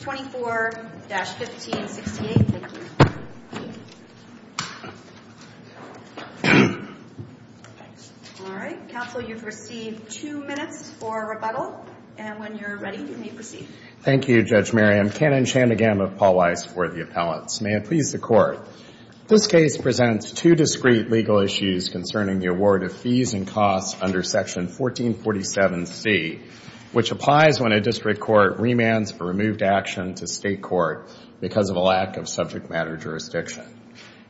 24-1568. Thank you. All right. Counsel, you've received two minutes for rebuttal. And when you're ready, you may proceed. Thank you, Judge Mary. I'm Kanan Shanmugam of Paul Weiss for the appellants. May it please the Court. This case presents two discrete legal issues concerning the award of fees and costs under Section 1447C, which applies when a district court remands a removed action to state court because of a lack of subject matter jurisdiction.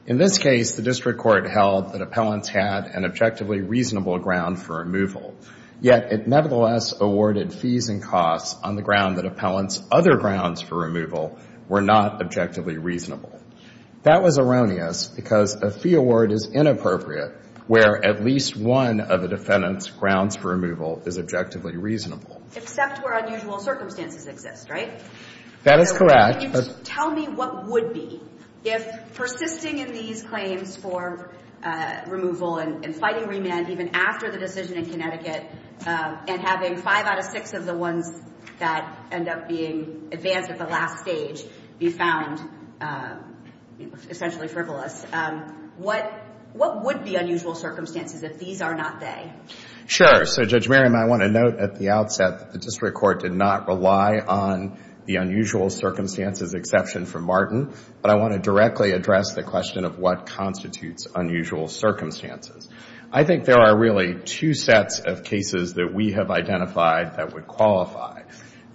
In this case, the district court held that appellants had an objectively reasonable ground for removal, yet it nevertheless awarded fees and costs on the ground that appellants' other grounds for removal were not objectively reasonable. That was erroneous because a fee award is inappropriate where at least one of the defendant's grounds for removal is objectively reasonable. Except where unusual circumstances exist, right? That is correct. Tell me what would be if persisting in these claims for removal and fighting remand even after the decision in Connecticut and having five out of six of the ones that end up being advanced at the last stage be found essentially frivolous? What would be unusual circumstances if these are not they? Sure. So, Judge Mary, I want to note at the outset that the district court did not rely on the unusual circumstances exception for Martin, but I want to directly address the question of what constitutes unusual circumstances. I think there are really two sets of cases that we have identified that would qualify.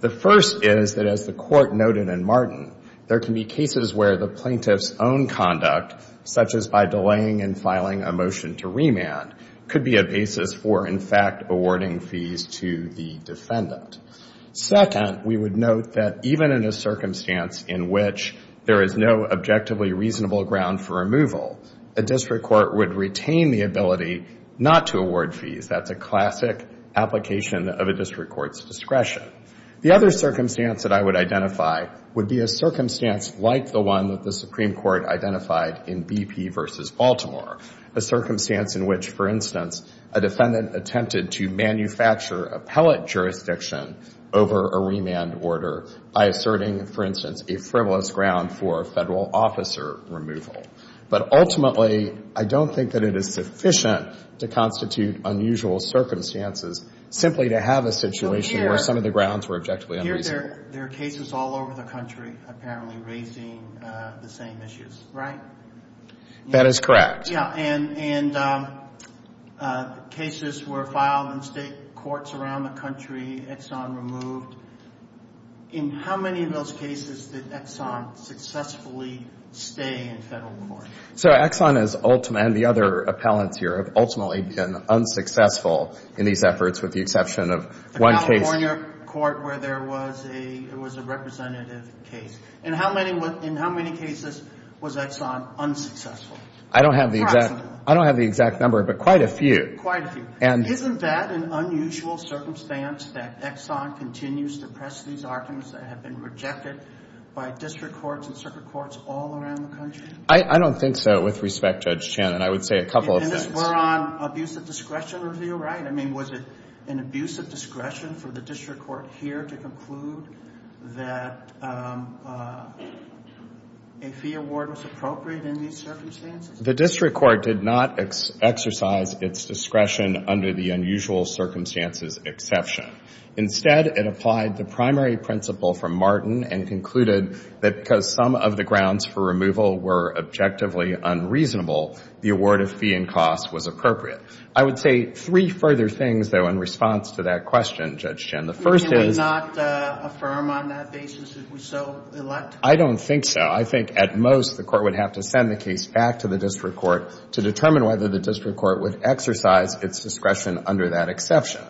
The first is that as the court noted in Martin, there can be cases where the plaintiff's own conduct, such as by delaying and filing a motion to remand, could be a basis for, in fact, awarding fees to the defendant. Second, we would note that even in a circumstance in which there is no objectively reasonable ground for removal, a district court would retain the ability not to award fees. That's a classic application of a district court's discretion. The other circumstance that I would identify would be a circumstance like the one that the Supreme Court identified in BP v. Baltimore, a circumstance in which, for instance, a defendant attempted to manufacture appellate jurisdiction over a remand order by asserting, for instance, a frivolous ground for federal officer removal. But ultimately, I don't think that it is sufficient to constitute unusual circumstances simply to have a situation where some of the grounds were objectively unreasonable. Here, there are cases all over the country, apparently, raising the same issues, right? That is correct. Yeah. And cases were filed in state courts around the country, Exxon removed. In how many of those cases did Exxon successfully stay in federal court? So Exxon and the other appellants here have ultimately been unsuccessful in these efforts with the exception of one case. The California court where there was a representative case. In how many cases was Exxon unsuccessful? I don't have the exact number, but quite a few. Quite a few. Isn't that an unusual circumstance that Exxon continues to press these arguments that have been rejected by district courts and circuit courts all around the country? I don't think so with respect, Judge Shannon. I would say a couple of things. We're on abuse of discretion review, right? I mean, was it an abuse of discretion for the district court here to conclude that a fee award was appropriate in these circumstances? The district court did not exercise its discretion under the unusual circumstances exception. Instead, it applied the primary principle from Martin and concluded that because some of the grounds for removal were objectively unreasonable, the award of fee and cost was appropriate. I would say three further things, though, in response to that question, Judge Shannon. The first is... You would not affirm on that basis that we so elect? I don't think so. I think at most the court would have to send the case back to the district court to determine whether the district court would exercise its discretion under that exception.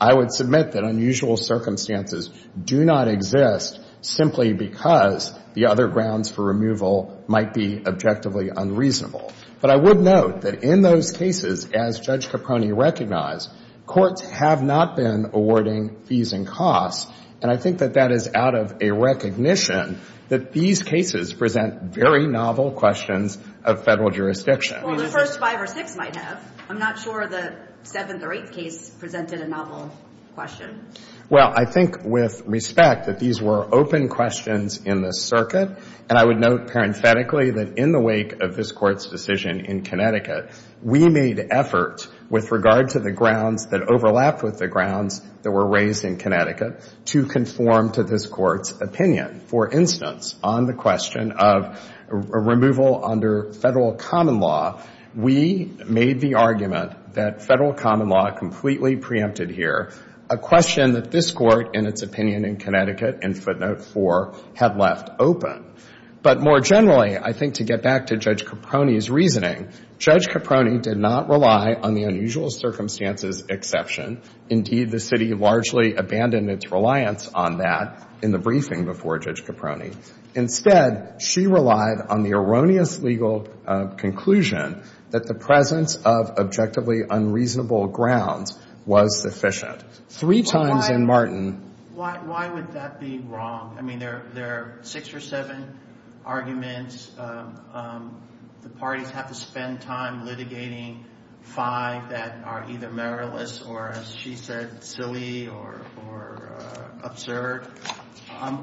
I would submit that unusual circumstances do not exist simply because the other grounds for removal might be objectively unreasonable. But I would note that in those cases, as Judge Caproni recognized, courts have not been awarding fees and costs. And I think that that is out of a recognition that these cases present very novel questions of federal jurisdiction. Well, the first five or six might have. I'm not sure the seventh or eighth case presented a novel question. Well, I think with respect that these were open questions in the circuit. And I would note parenthetically that in the wake of this Court's decision in Connecticut, we made effort with regard to the grounds that overlapped with the grounds that were raised in Connecticut to conform to this Court's opinion. For instance, on the question of removal under federal common law, we made the argument that federal common law completely preempted here, a question that this Court, in its opinion in Connecticut, in footnote four, had left open. But more generally, I think to get back to Judge Caproni's reasoning, Judge Caproni did not rely on the unusual circumstances exception. Indeed, the city largely abandoned its reliance on that in the briefing before Judge Caproni. Instead, she relied on the erroneous legal conclusion that the presence of objectively unreasonable grounds was sufficient. Three times in Martin. Why would that be wrong? I mean, there are six or seven arguments. The parties have to spend time litigating five that are either merriless or, as she said, silly or absurd.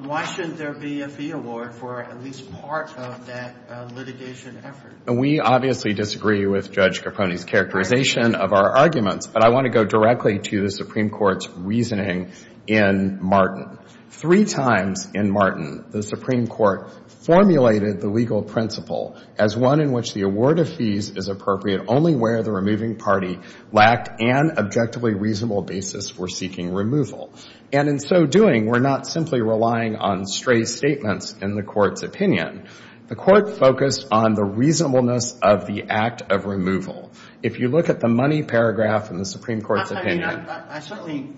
Why shouldn't there be a fee award for at least part of that litigation effort? We obviously disagree with Judge Caproni's characterization of our arguments, but I want to go directly to the Supreme Court's reasoning in Martin. Three times in Martin, the Supreme Court formulated the legal principle as one in which the award of fees is appropriate only where the removing party lacked an objectively reasonable basis for seeking removal. And in so doing, we're not simply relying on stray statements in the Court's opinion. The Court focused on the reasonableness of the act of removal. If you look at the money paragraph in the Supreme Court's opinion. I certainly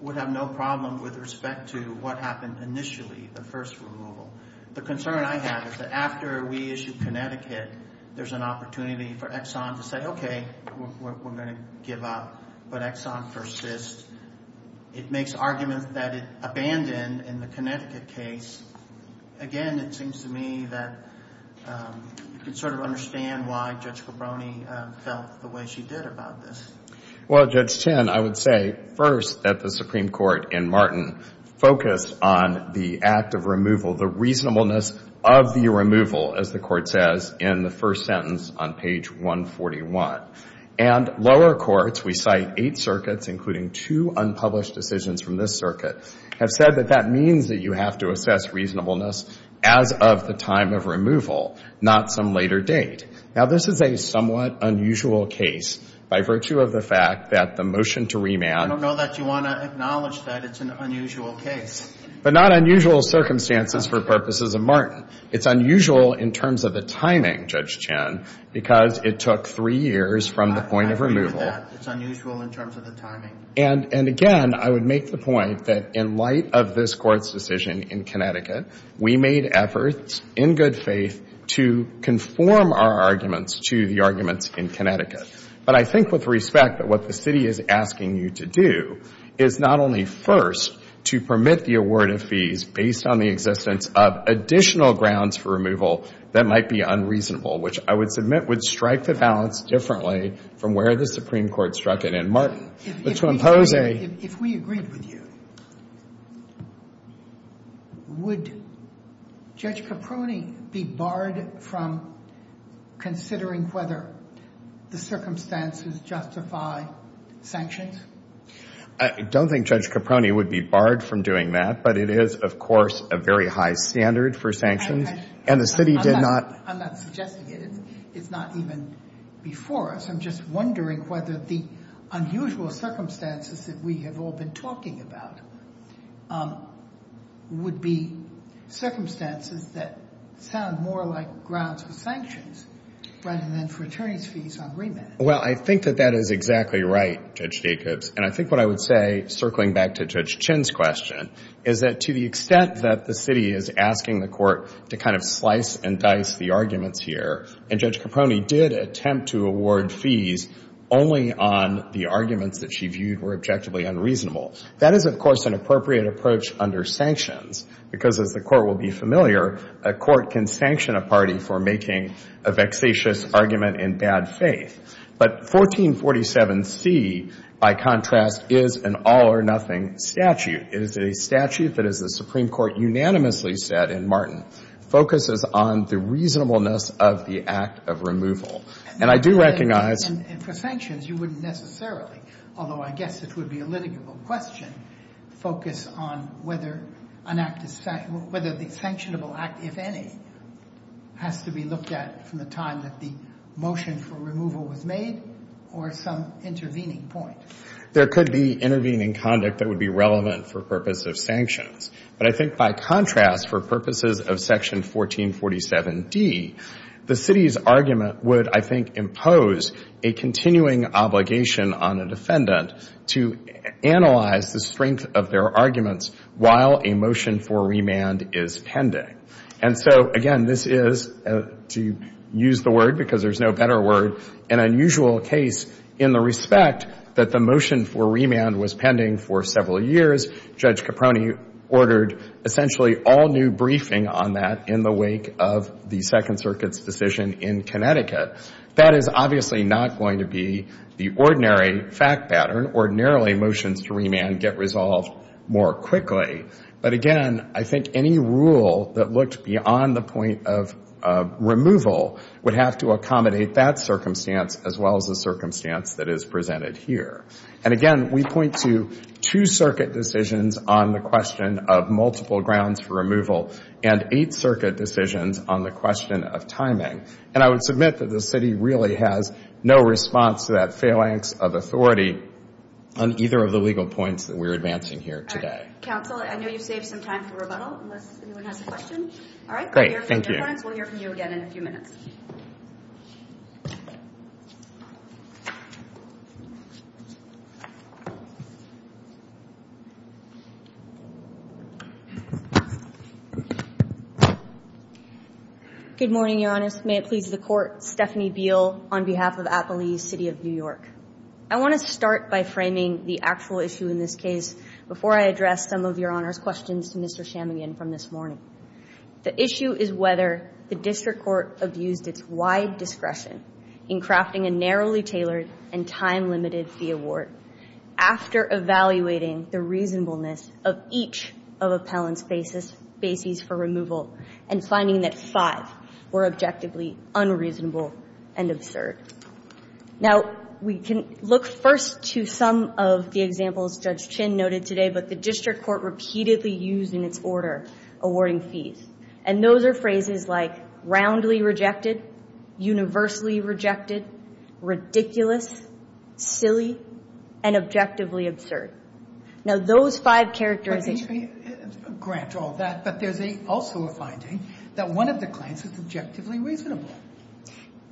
would have no problem with respect to what happened initially, the first removal. The concern I have is that after we issue Connecticut, there's an opportunity for Exxon to say, okay, we're going to give up, but Exxon persists. It makes argument that it abandoned in the Connecticut case. Again, it seems to me that you can sort of understand why Judge Caproni felt the way she did about this. Well, Judge Chen, I would say first that the Supreme Court in Martin focused on the act of removal, the reasonableness of the removal, as the Court says in the first sentence on page 141. And lower courts, we cite eight circuits, including two unpublished decisions from this circuit, have said that that means that you have to assess reasonableness as of the time of removal, not some later date. Now, this is a somewhat unusual case by virtue of the fact that the motion to remand. I don't know that you want to acknowledge that it's an unusual case. But not unusual circumstances for purposes of Martin. It's unusual in terms of the timing, Judge Chen, because it took three years from the point of removal. I agree with that. It's unusual in terms of the timing. And again, I would make the point that in light of this Court's decision in Connecticut, we made efforts in good faith to conform our arguments to the arguments in Connecticut. But I think with respect that what the city is asking you to do is not only first to permit the award of fees based on the existence of additional grounds for removal that might be unreasonable, which I would submit would strike the balance differently from where the Supreme Court struck it. And Martin, to impose a... If we agreed with you, would Judge Caproni be barred from considering whether the circumstances justify sanctions? I don't think Judge Caproni would be barred from doing that. But it is, of course, a very high standard for sanctions. And the city did not... I'm not suggesting it. It's not even before us. I'm just wondering whether the unusual circumstances that we have all been talking about would be circumstances that sound more like grounds for sanctions rather than for attorneys' fees on remand. Well, I think that that is exactly right, Judge Jacobs. And I think what I would say, circling back to Judge Chen's question, is that to the extent that the city is asking the court to kind of slice and dice the arguments here, and Judge Caproni did attempt to award fees only on the arguments that she viewed were objectively unreasonable, that is, of course, an appropriate approach under sanctions. Because, as the court will be familiar, a court can sanction a party for making a vexatious argument in bad faith. But 1447C, by contrast, is an all-or-nothing statute. It is a statute that, as the Supreme Court unanimously said in Martin, focuses on the reasonableness of the act of removal. And I do recognize... And for sanctions, you wouldn't necessarily, although I guess it would be a litigable question, focus on whether the sanctionable act, if any, has to be looked at from the time that the motion for removal was made or some intervening point. There could be intervening conduct that would be relevant for purpose of sanctions. But I think, by contrast, for purposes of Section 1447D, the city's argument would, I think, impose a continuing obligation on a defendant to analyze the strength of their arguments while a motion for remand is pending. And so, again, this is, to use the word because there's no better word, an unusual case in the respect that the motion for remand was pending for several years. Judge Caproni ordered essentially all new briefing on that in the wake of the Second Circuit's decision in Connecticut. That is obviously not going to be the ordinary fact pattern. Ordinarily, motions to remand get resolved more quickly. But again, I think any rule that looked beyond the point of removal would have to accommodate that circumstance as well as the circumstance that is presented here. And again, we point to two circuit decisions on the question of multiple grounds for removal and eight circuit decisions on the question of timing. And I would submit that the city really has no response to that phalanx of authority on either of the legal points that we're advancing here today. Counsel, I know you've saved some time for rebuttal unless anyone has a question. All right. We'll hear from you again in a few minutes. Good morning, Your Honor. May it please the Court. Stephanie Beal on behalf of Appalachee City of New York. I want to start by framing the actual issue in this case before I address some of Your Honor's questions to Mr. Chamigan from this morning. The issue is whether the district court abused its wide discretion in crafting a narrowly tailored and time-limited fee award after evaluating the reasonableness of each of Appellant's bases for removal and finding that five were objectively unreasonable and absurd. Now, we can look first to some of the examples Judge Chin noted today, but the district court repeatedly used in its order awarding fees. And those are phrases like roundly rejected, universally rejected, ridiculous, silly, and objectively absurd. Now, those five characteristics... Let me grant all that, but there's also a finding that one of the claims is objectively reasonable.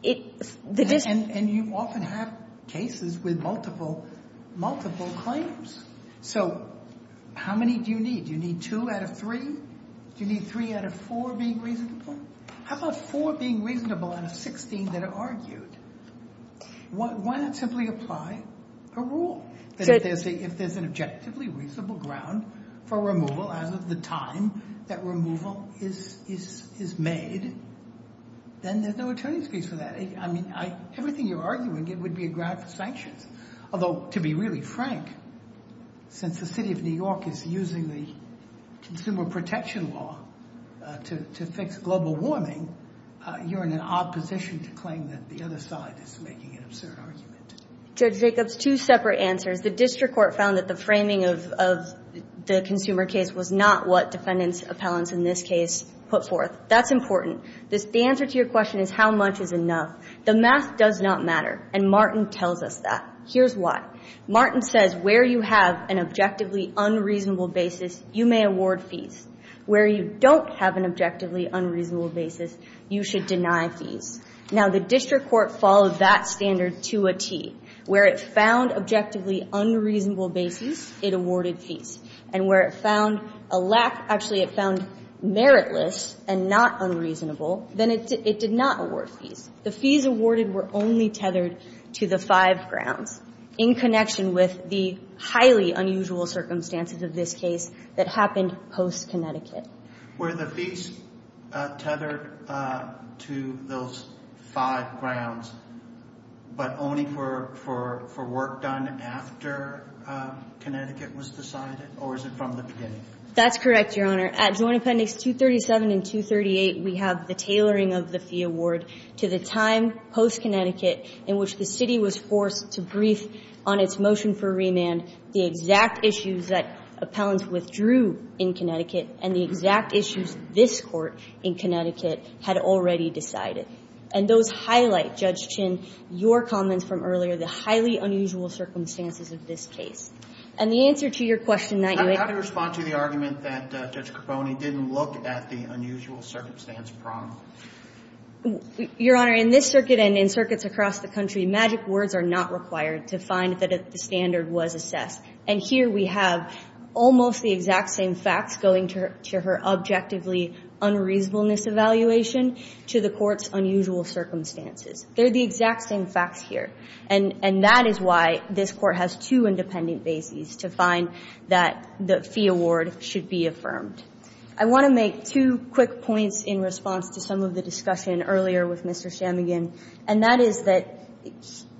And you often have cases with multiple, multiple claims. So how many do you need? Do you need two out of three? Do you need three out of four being reasonable? How about four being reasonable out of 16 that are argued? Why not simply apply a rule that if there's an objectively reasonable ground for removal as of the time that removal is made, then there's no attorney's fees for that. I mean, everything you're arguing, it would be a ground for sanctions. Although, to be really frank, since the city of New York is using the consumer protection law to fix global warming, you're in an odd position to claim that the other side is making an absurd argument. Judge Jacobs, two separate answers. The district court found that the framing of the consumer case was not what defendants, appellants in this case, put forth. That's important. The answer to your question is how much is enough? The math does not matter, and Martin tells us that. Here's why. Martin says where you have an objectively unreasonable basis, you may award fees. Where you don't have an objectively unreasonable basis, you should deny fees. Now, the district court followed that standard to a T. Where it found objectively unreasonable basis, it awarded fees. And where it found a lack, actually it found meritless and not unreasonable, then it did not award fees. The fees awarded were only tethered to the five grounds in connection with the highly unusual circumstances of this case that happened post-Connecticut. Where the fees tethered to those five grounds, but only for work done after Connecticut was decided? Or is it from the beginning? That's correct, Your Honor. At Joint Appendix 237 and 238, we have the tailoring of the fee award to the time post-Connecticut in which the city was forced to brief on its motion for remand the exact issues that appellants withdrew in Connecticut and the exact issues this court in Connecticut had already decided. And those highlight, Judge Chinn, your comments from earlier, the highly unusual circumstances of this case. And the answer to your question that you make. How do you respond to the argument that Judge Capone didn't look at the unusual circumstance problem? Your Honor, in this circuit and in circuits across the country, magic words are not required to find that the standard was assessed. And here we have almost the exact same facts going to her objectively unreasonableness evaluation to the court's unusual circumstances. They're the exact same facts here. And that is why this court has two independent bases to find that the fee award should be affirmed. I want to make two quick points in response to some of the discussion earlier with Mr. Shamigan. And that is that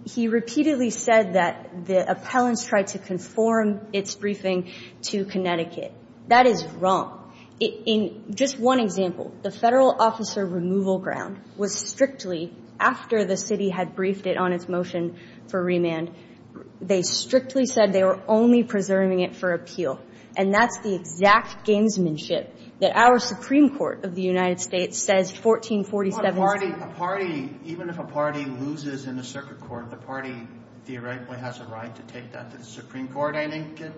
he repeatedly said that the appellants tried to conform its briefing to Connecticut. That is wrong. In just one example, the federal officer removal ground was strictly, after the city had briefed it on its motion for remand, they strictly said they were only preserving it for appeal. And that's the exact gamesmanship that our Supreme Court of the United States says 1447. Even if a party loses in the circuit court, the party theoretically has a right to take that to the Supreme Court. I think it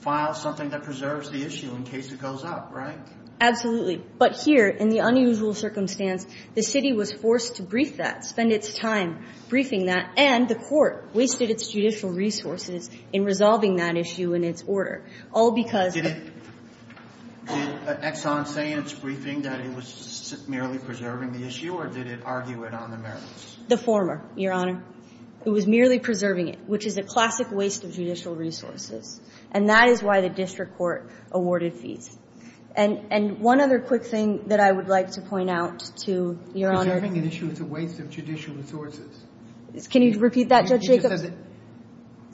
files something that preserves the issue in case it goes up, right? Absolutely. But here, in the unusual circumstance, the city was forced to brief that, spend its time briefing that. And the court wasted its judicial resources in resolving that issue in its order. All because of it. Did Exxon say in its briefing that it was merely preserving the issue? Or did it argue it on the merits? The former, Your Honor. It was merely preserving it, which is a classic waste of judicial resources. And that is why the district court awarded fees. And one other quick thing that I would like to point out to, Your Honor. Preserving an issue is a waste of judicial resources. Can you repeat that, Judge Jacobs?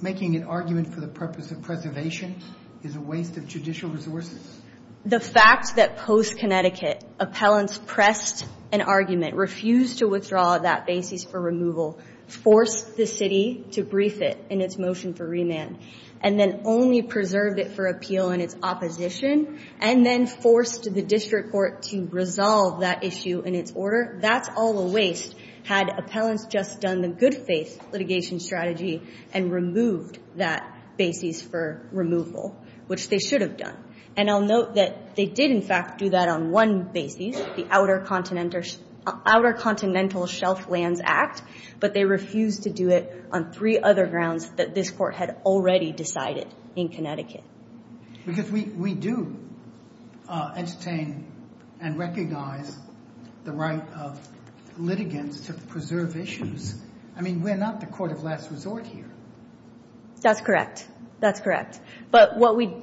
Making an argument for the purpose of preservation is a waste of judicial resources. The fact that post-Connecticut, appellants pressed an argument, refused to withdraw that basis for removal, forced the city to brief it in its motion for remand. And then only preserved it for appeal in its opposition. And then forced the district court to resolve that issue in its order. That's all a waste had appellants just done the good faith litigation strategy and removed that basis for removal, which they should have done. And I'll note that they did, in fact, do that on one basis. The Outer Continental Shelf Lands Act. But they refused to do it on three other grounds that this court had already decided in Connecticut. Because we do entertain and recognize the right of litigants to preserve issues. I mean, we're not the court of last resort here. That's correct. That's correct. But what we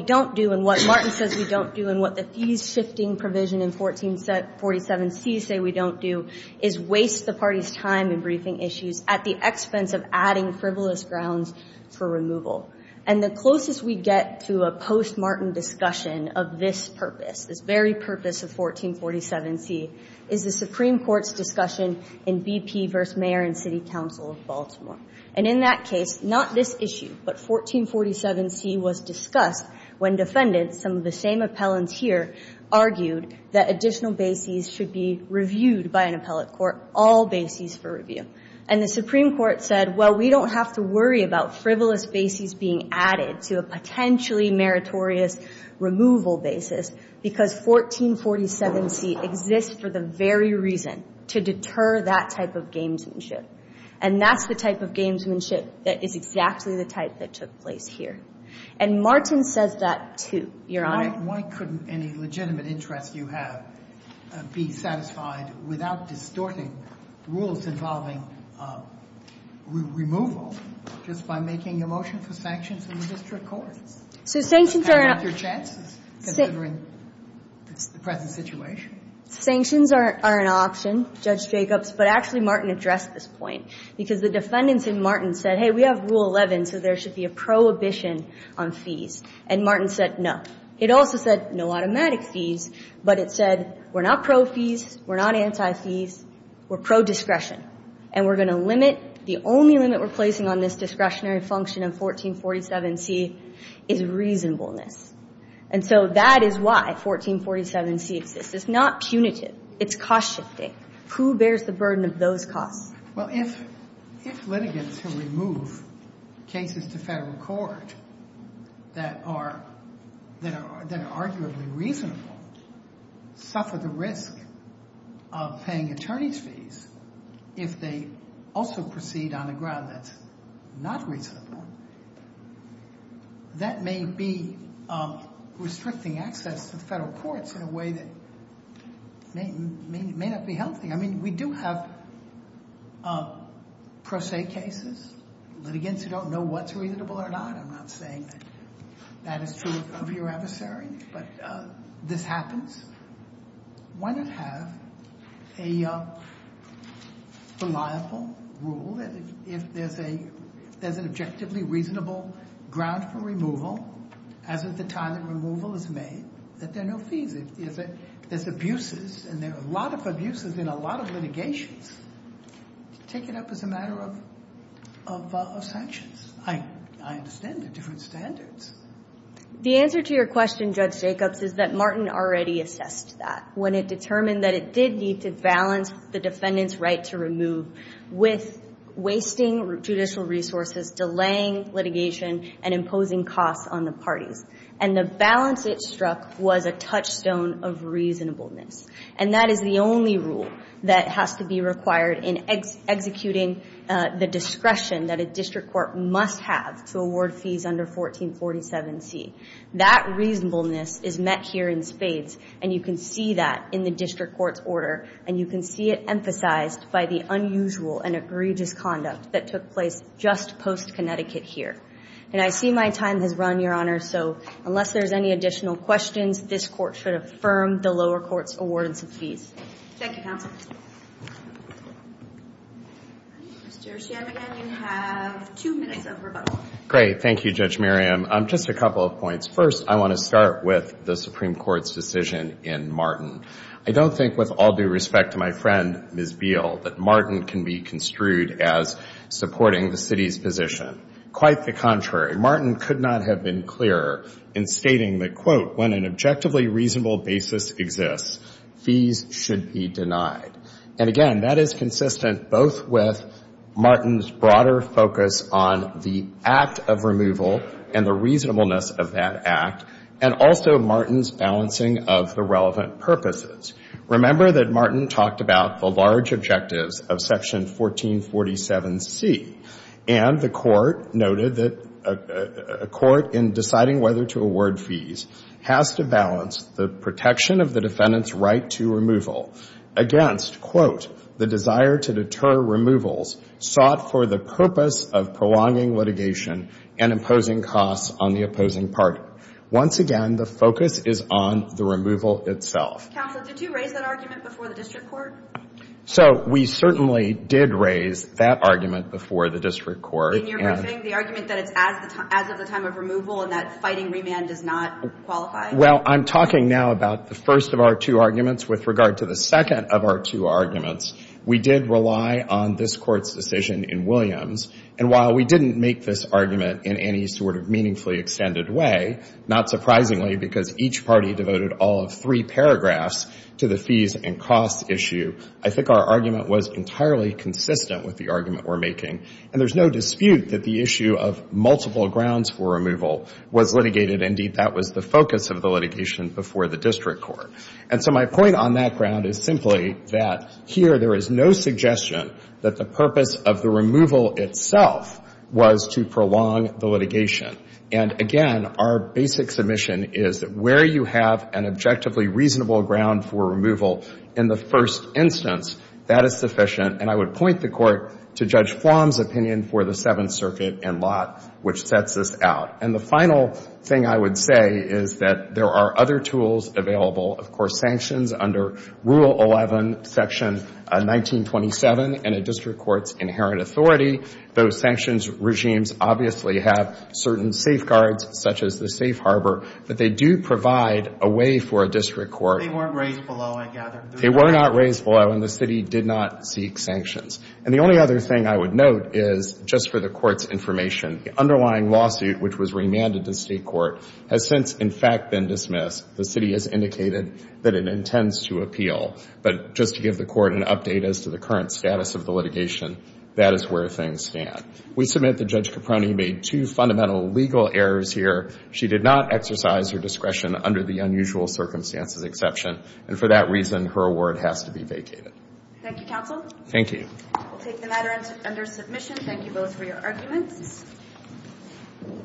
don't do, and what Martin says we don't do, and what the fees shifting provision in 1447C say we don't do, is waste the party's time in briefing issues at the expense of adding frivolous grounds for removal. And the closest we get to a post-Martin discussion of this purpose, this very purpose of 1447C, is the Supreme Court's discussion in BP versus Mayor and City Council of Baltimore. And in that case, not this issue, but 1447C was discussed when defendants, some of the same appellants here, argued that additional bases should be reviewed by an appellate court, all bases for review. And the Supreme Court said, well, we don't have to worry about frivolous bases being added to a potentially meritorious removal basis, because 1447C exists for the very reason to deter that type of gamesmanship. And that's the type of gamesmanship that is exactly the type that took place here. And Martin says that, too, Your Honor. Why couldn't any legitimate interest you have be satisfied without distorting rules involving removal just by making a motion for sanctions in the district courts? So sanctions are an option. How about your chances, considering the present situation? Sanctions are an option, Judge Jacobs. But actually, Martin addressed this point. Because the defendants in Martin said, hey, we have Rule 11, so there should be a prohibition on fees. And Martin said, no. It also said, no automatic fees. But it said, we're not pro fees. We're not anti-fees. We're pro-discretion. And we're going to limit. The only limit we're placing on this discretionary function in 1447C is reasonableness. And so that is why 1447C exists. It's not punitive. It's cost-shifting. Who bears the burden of those costs? Well, if litigants who remove cases to federal court that are arguably reasonable suffer the risk of paying attorney's fees, if they also proceed on a ground that's not reasonable, that may be restricting access to federal courts in a way that may not be healthy. I mean, we do have pro se cases, litigants who don't know what's reasonable or not. I'm not saying that that is true of your adversary. But this happens. Why not have a reliable rule that if there's an objectively reasonable ground for removal, as at the time that removal is made, that there are no fees? If there's abuses, and there are a lot of abuses in a lot of litigations, take it up as a matter of sanctions. I understand the different standards. The answer to your question, Judge Jacobs, is that Martin already assessed that when it determined that it did need to balance the defendant's right to remove with wasting judicial resources, delaying litigation, and imposing costs on the parties. And the balance it struck was a touchstone of reasonableness. And that is the only rule that has to be required in executing the discretion that a district court must have to award fees under 1447C. That reasonableness is met here in spades. And you can see that in the district court's order. And you can see it emphasized by the unusual and egregious conduct that took place just post-Connecticut here. And I see my time has run, Your Honor. So unless there's any additional questions, this court should affirm the lower court's awardance of fees. Thank you, counsel. Thank you. Mr. Chiam, again, you have two minutes of rebuttal. Great, thank you, Judge Miriam. Just a couple of points. First, I want to start with the Supreme Court's decision in Martin. I don't think, with all due respect to my friend, Ms. Beal, that Martin can be construed as supporting the city's position. Quite the contrary. Martin could not have been clearer in stating that, quote, when an objectively reasonable basis exists, fees should be denied. And again, that is consistent both with Martin's broader focus on the act of removal and the reasonableness of that act and also Martin's balancing of the relevant purposes. Remember that Martin talked about the large objectives of Section 1447C. And the court noted that a court, in deciding whether to award fees, has to balance the protection of the defendant's right to removal against, quote, the desire to deter removals sought for the purpose of prolonging litigation and imposing costs on the opposing party. Once again, the focus is on the removal itself. Counsel, did you raise that argument before the district court? So we certainly did raise that argument before the district court. In your briefing, the argument that it's as of the time of removal and that fighting remand does not qualify? Well, I'm talking now about the first of our two arguments. With regard to the second of our two arguments, we did rely on this court's decision in Williams. And while we didn't make this argument in any sort of meaningfully extended way, not surprisingly, because each party devoted all of three paragraphs to the fees and costs issue, I think our argument was entirely consistent with the argument we're making. And there's no dispute that the issue of multiple grounds for removal was litigated. Indeed, that was the focus of the litigation before the district court. And so my point on that ground is simply that here there is no suggestion that the purpose of the removal itself was to prolong the litigation. And again, our basic submission is that where you have an objectively reasonable ground for removal in the first instance, that is sufficient. And I would point the court to Judge Flom's opinion for the Seventh Circuit and Lott, which sets this out. And the final thing I would say is that there are other tools available. Of course, sanctions under Rule 11, Section 1927, and a district court's inherent authority. Those sanctions regimes obviously have certain safeguards, such as the safe harbor, but they do provide a way for a district court. They weren't raised below, I gather. They were not raised below, and the city did not seek sanctions. And the only other thing I would note is, just for the court's information, the underlying lawsuit, which was remanded to state court, has since, in fact, been dismissed. The city has indicated that it intends to appeal. But just to give the court an update as to the current status of the litigation, that is where things stand. We submit that Judge Caproni made two fundamental legal errors here. She did not exercise her discretion under the unusual circumstances exception. And for that reason, her award has to be vacated. Thank you, counsel. Thank you. We'll take the matter under submission. Thank you both for your arguments.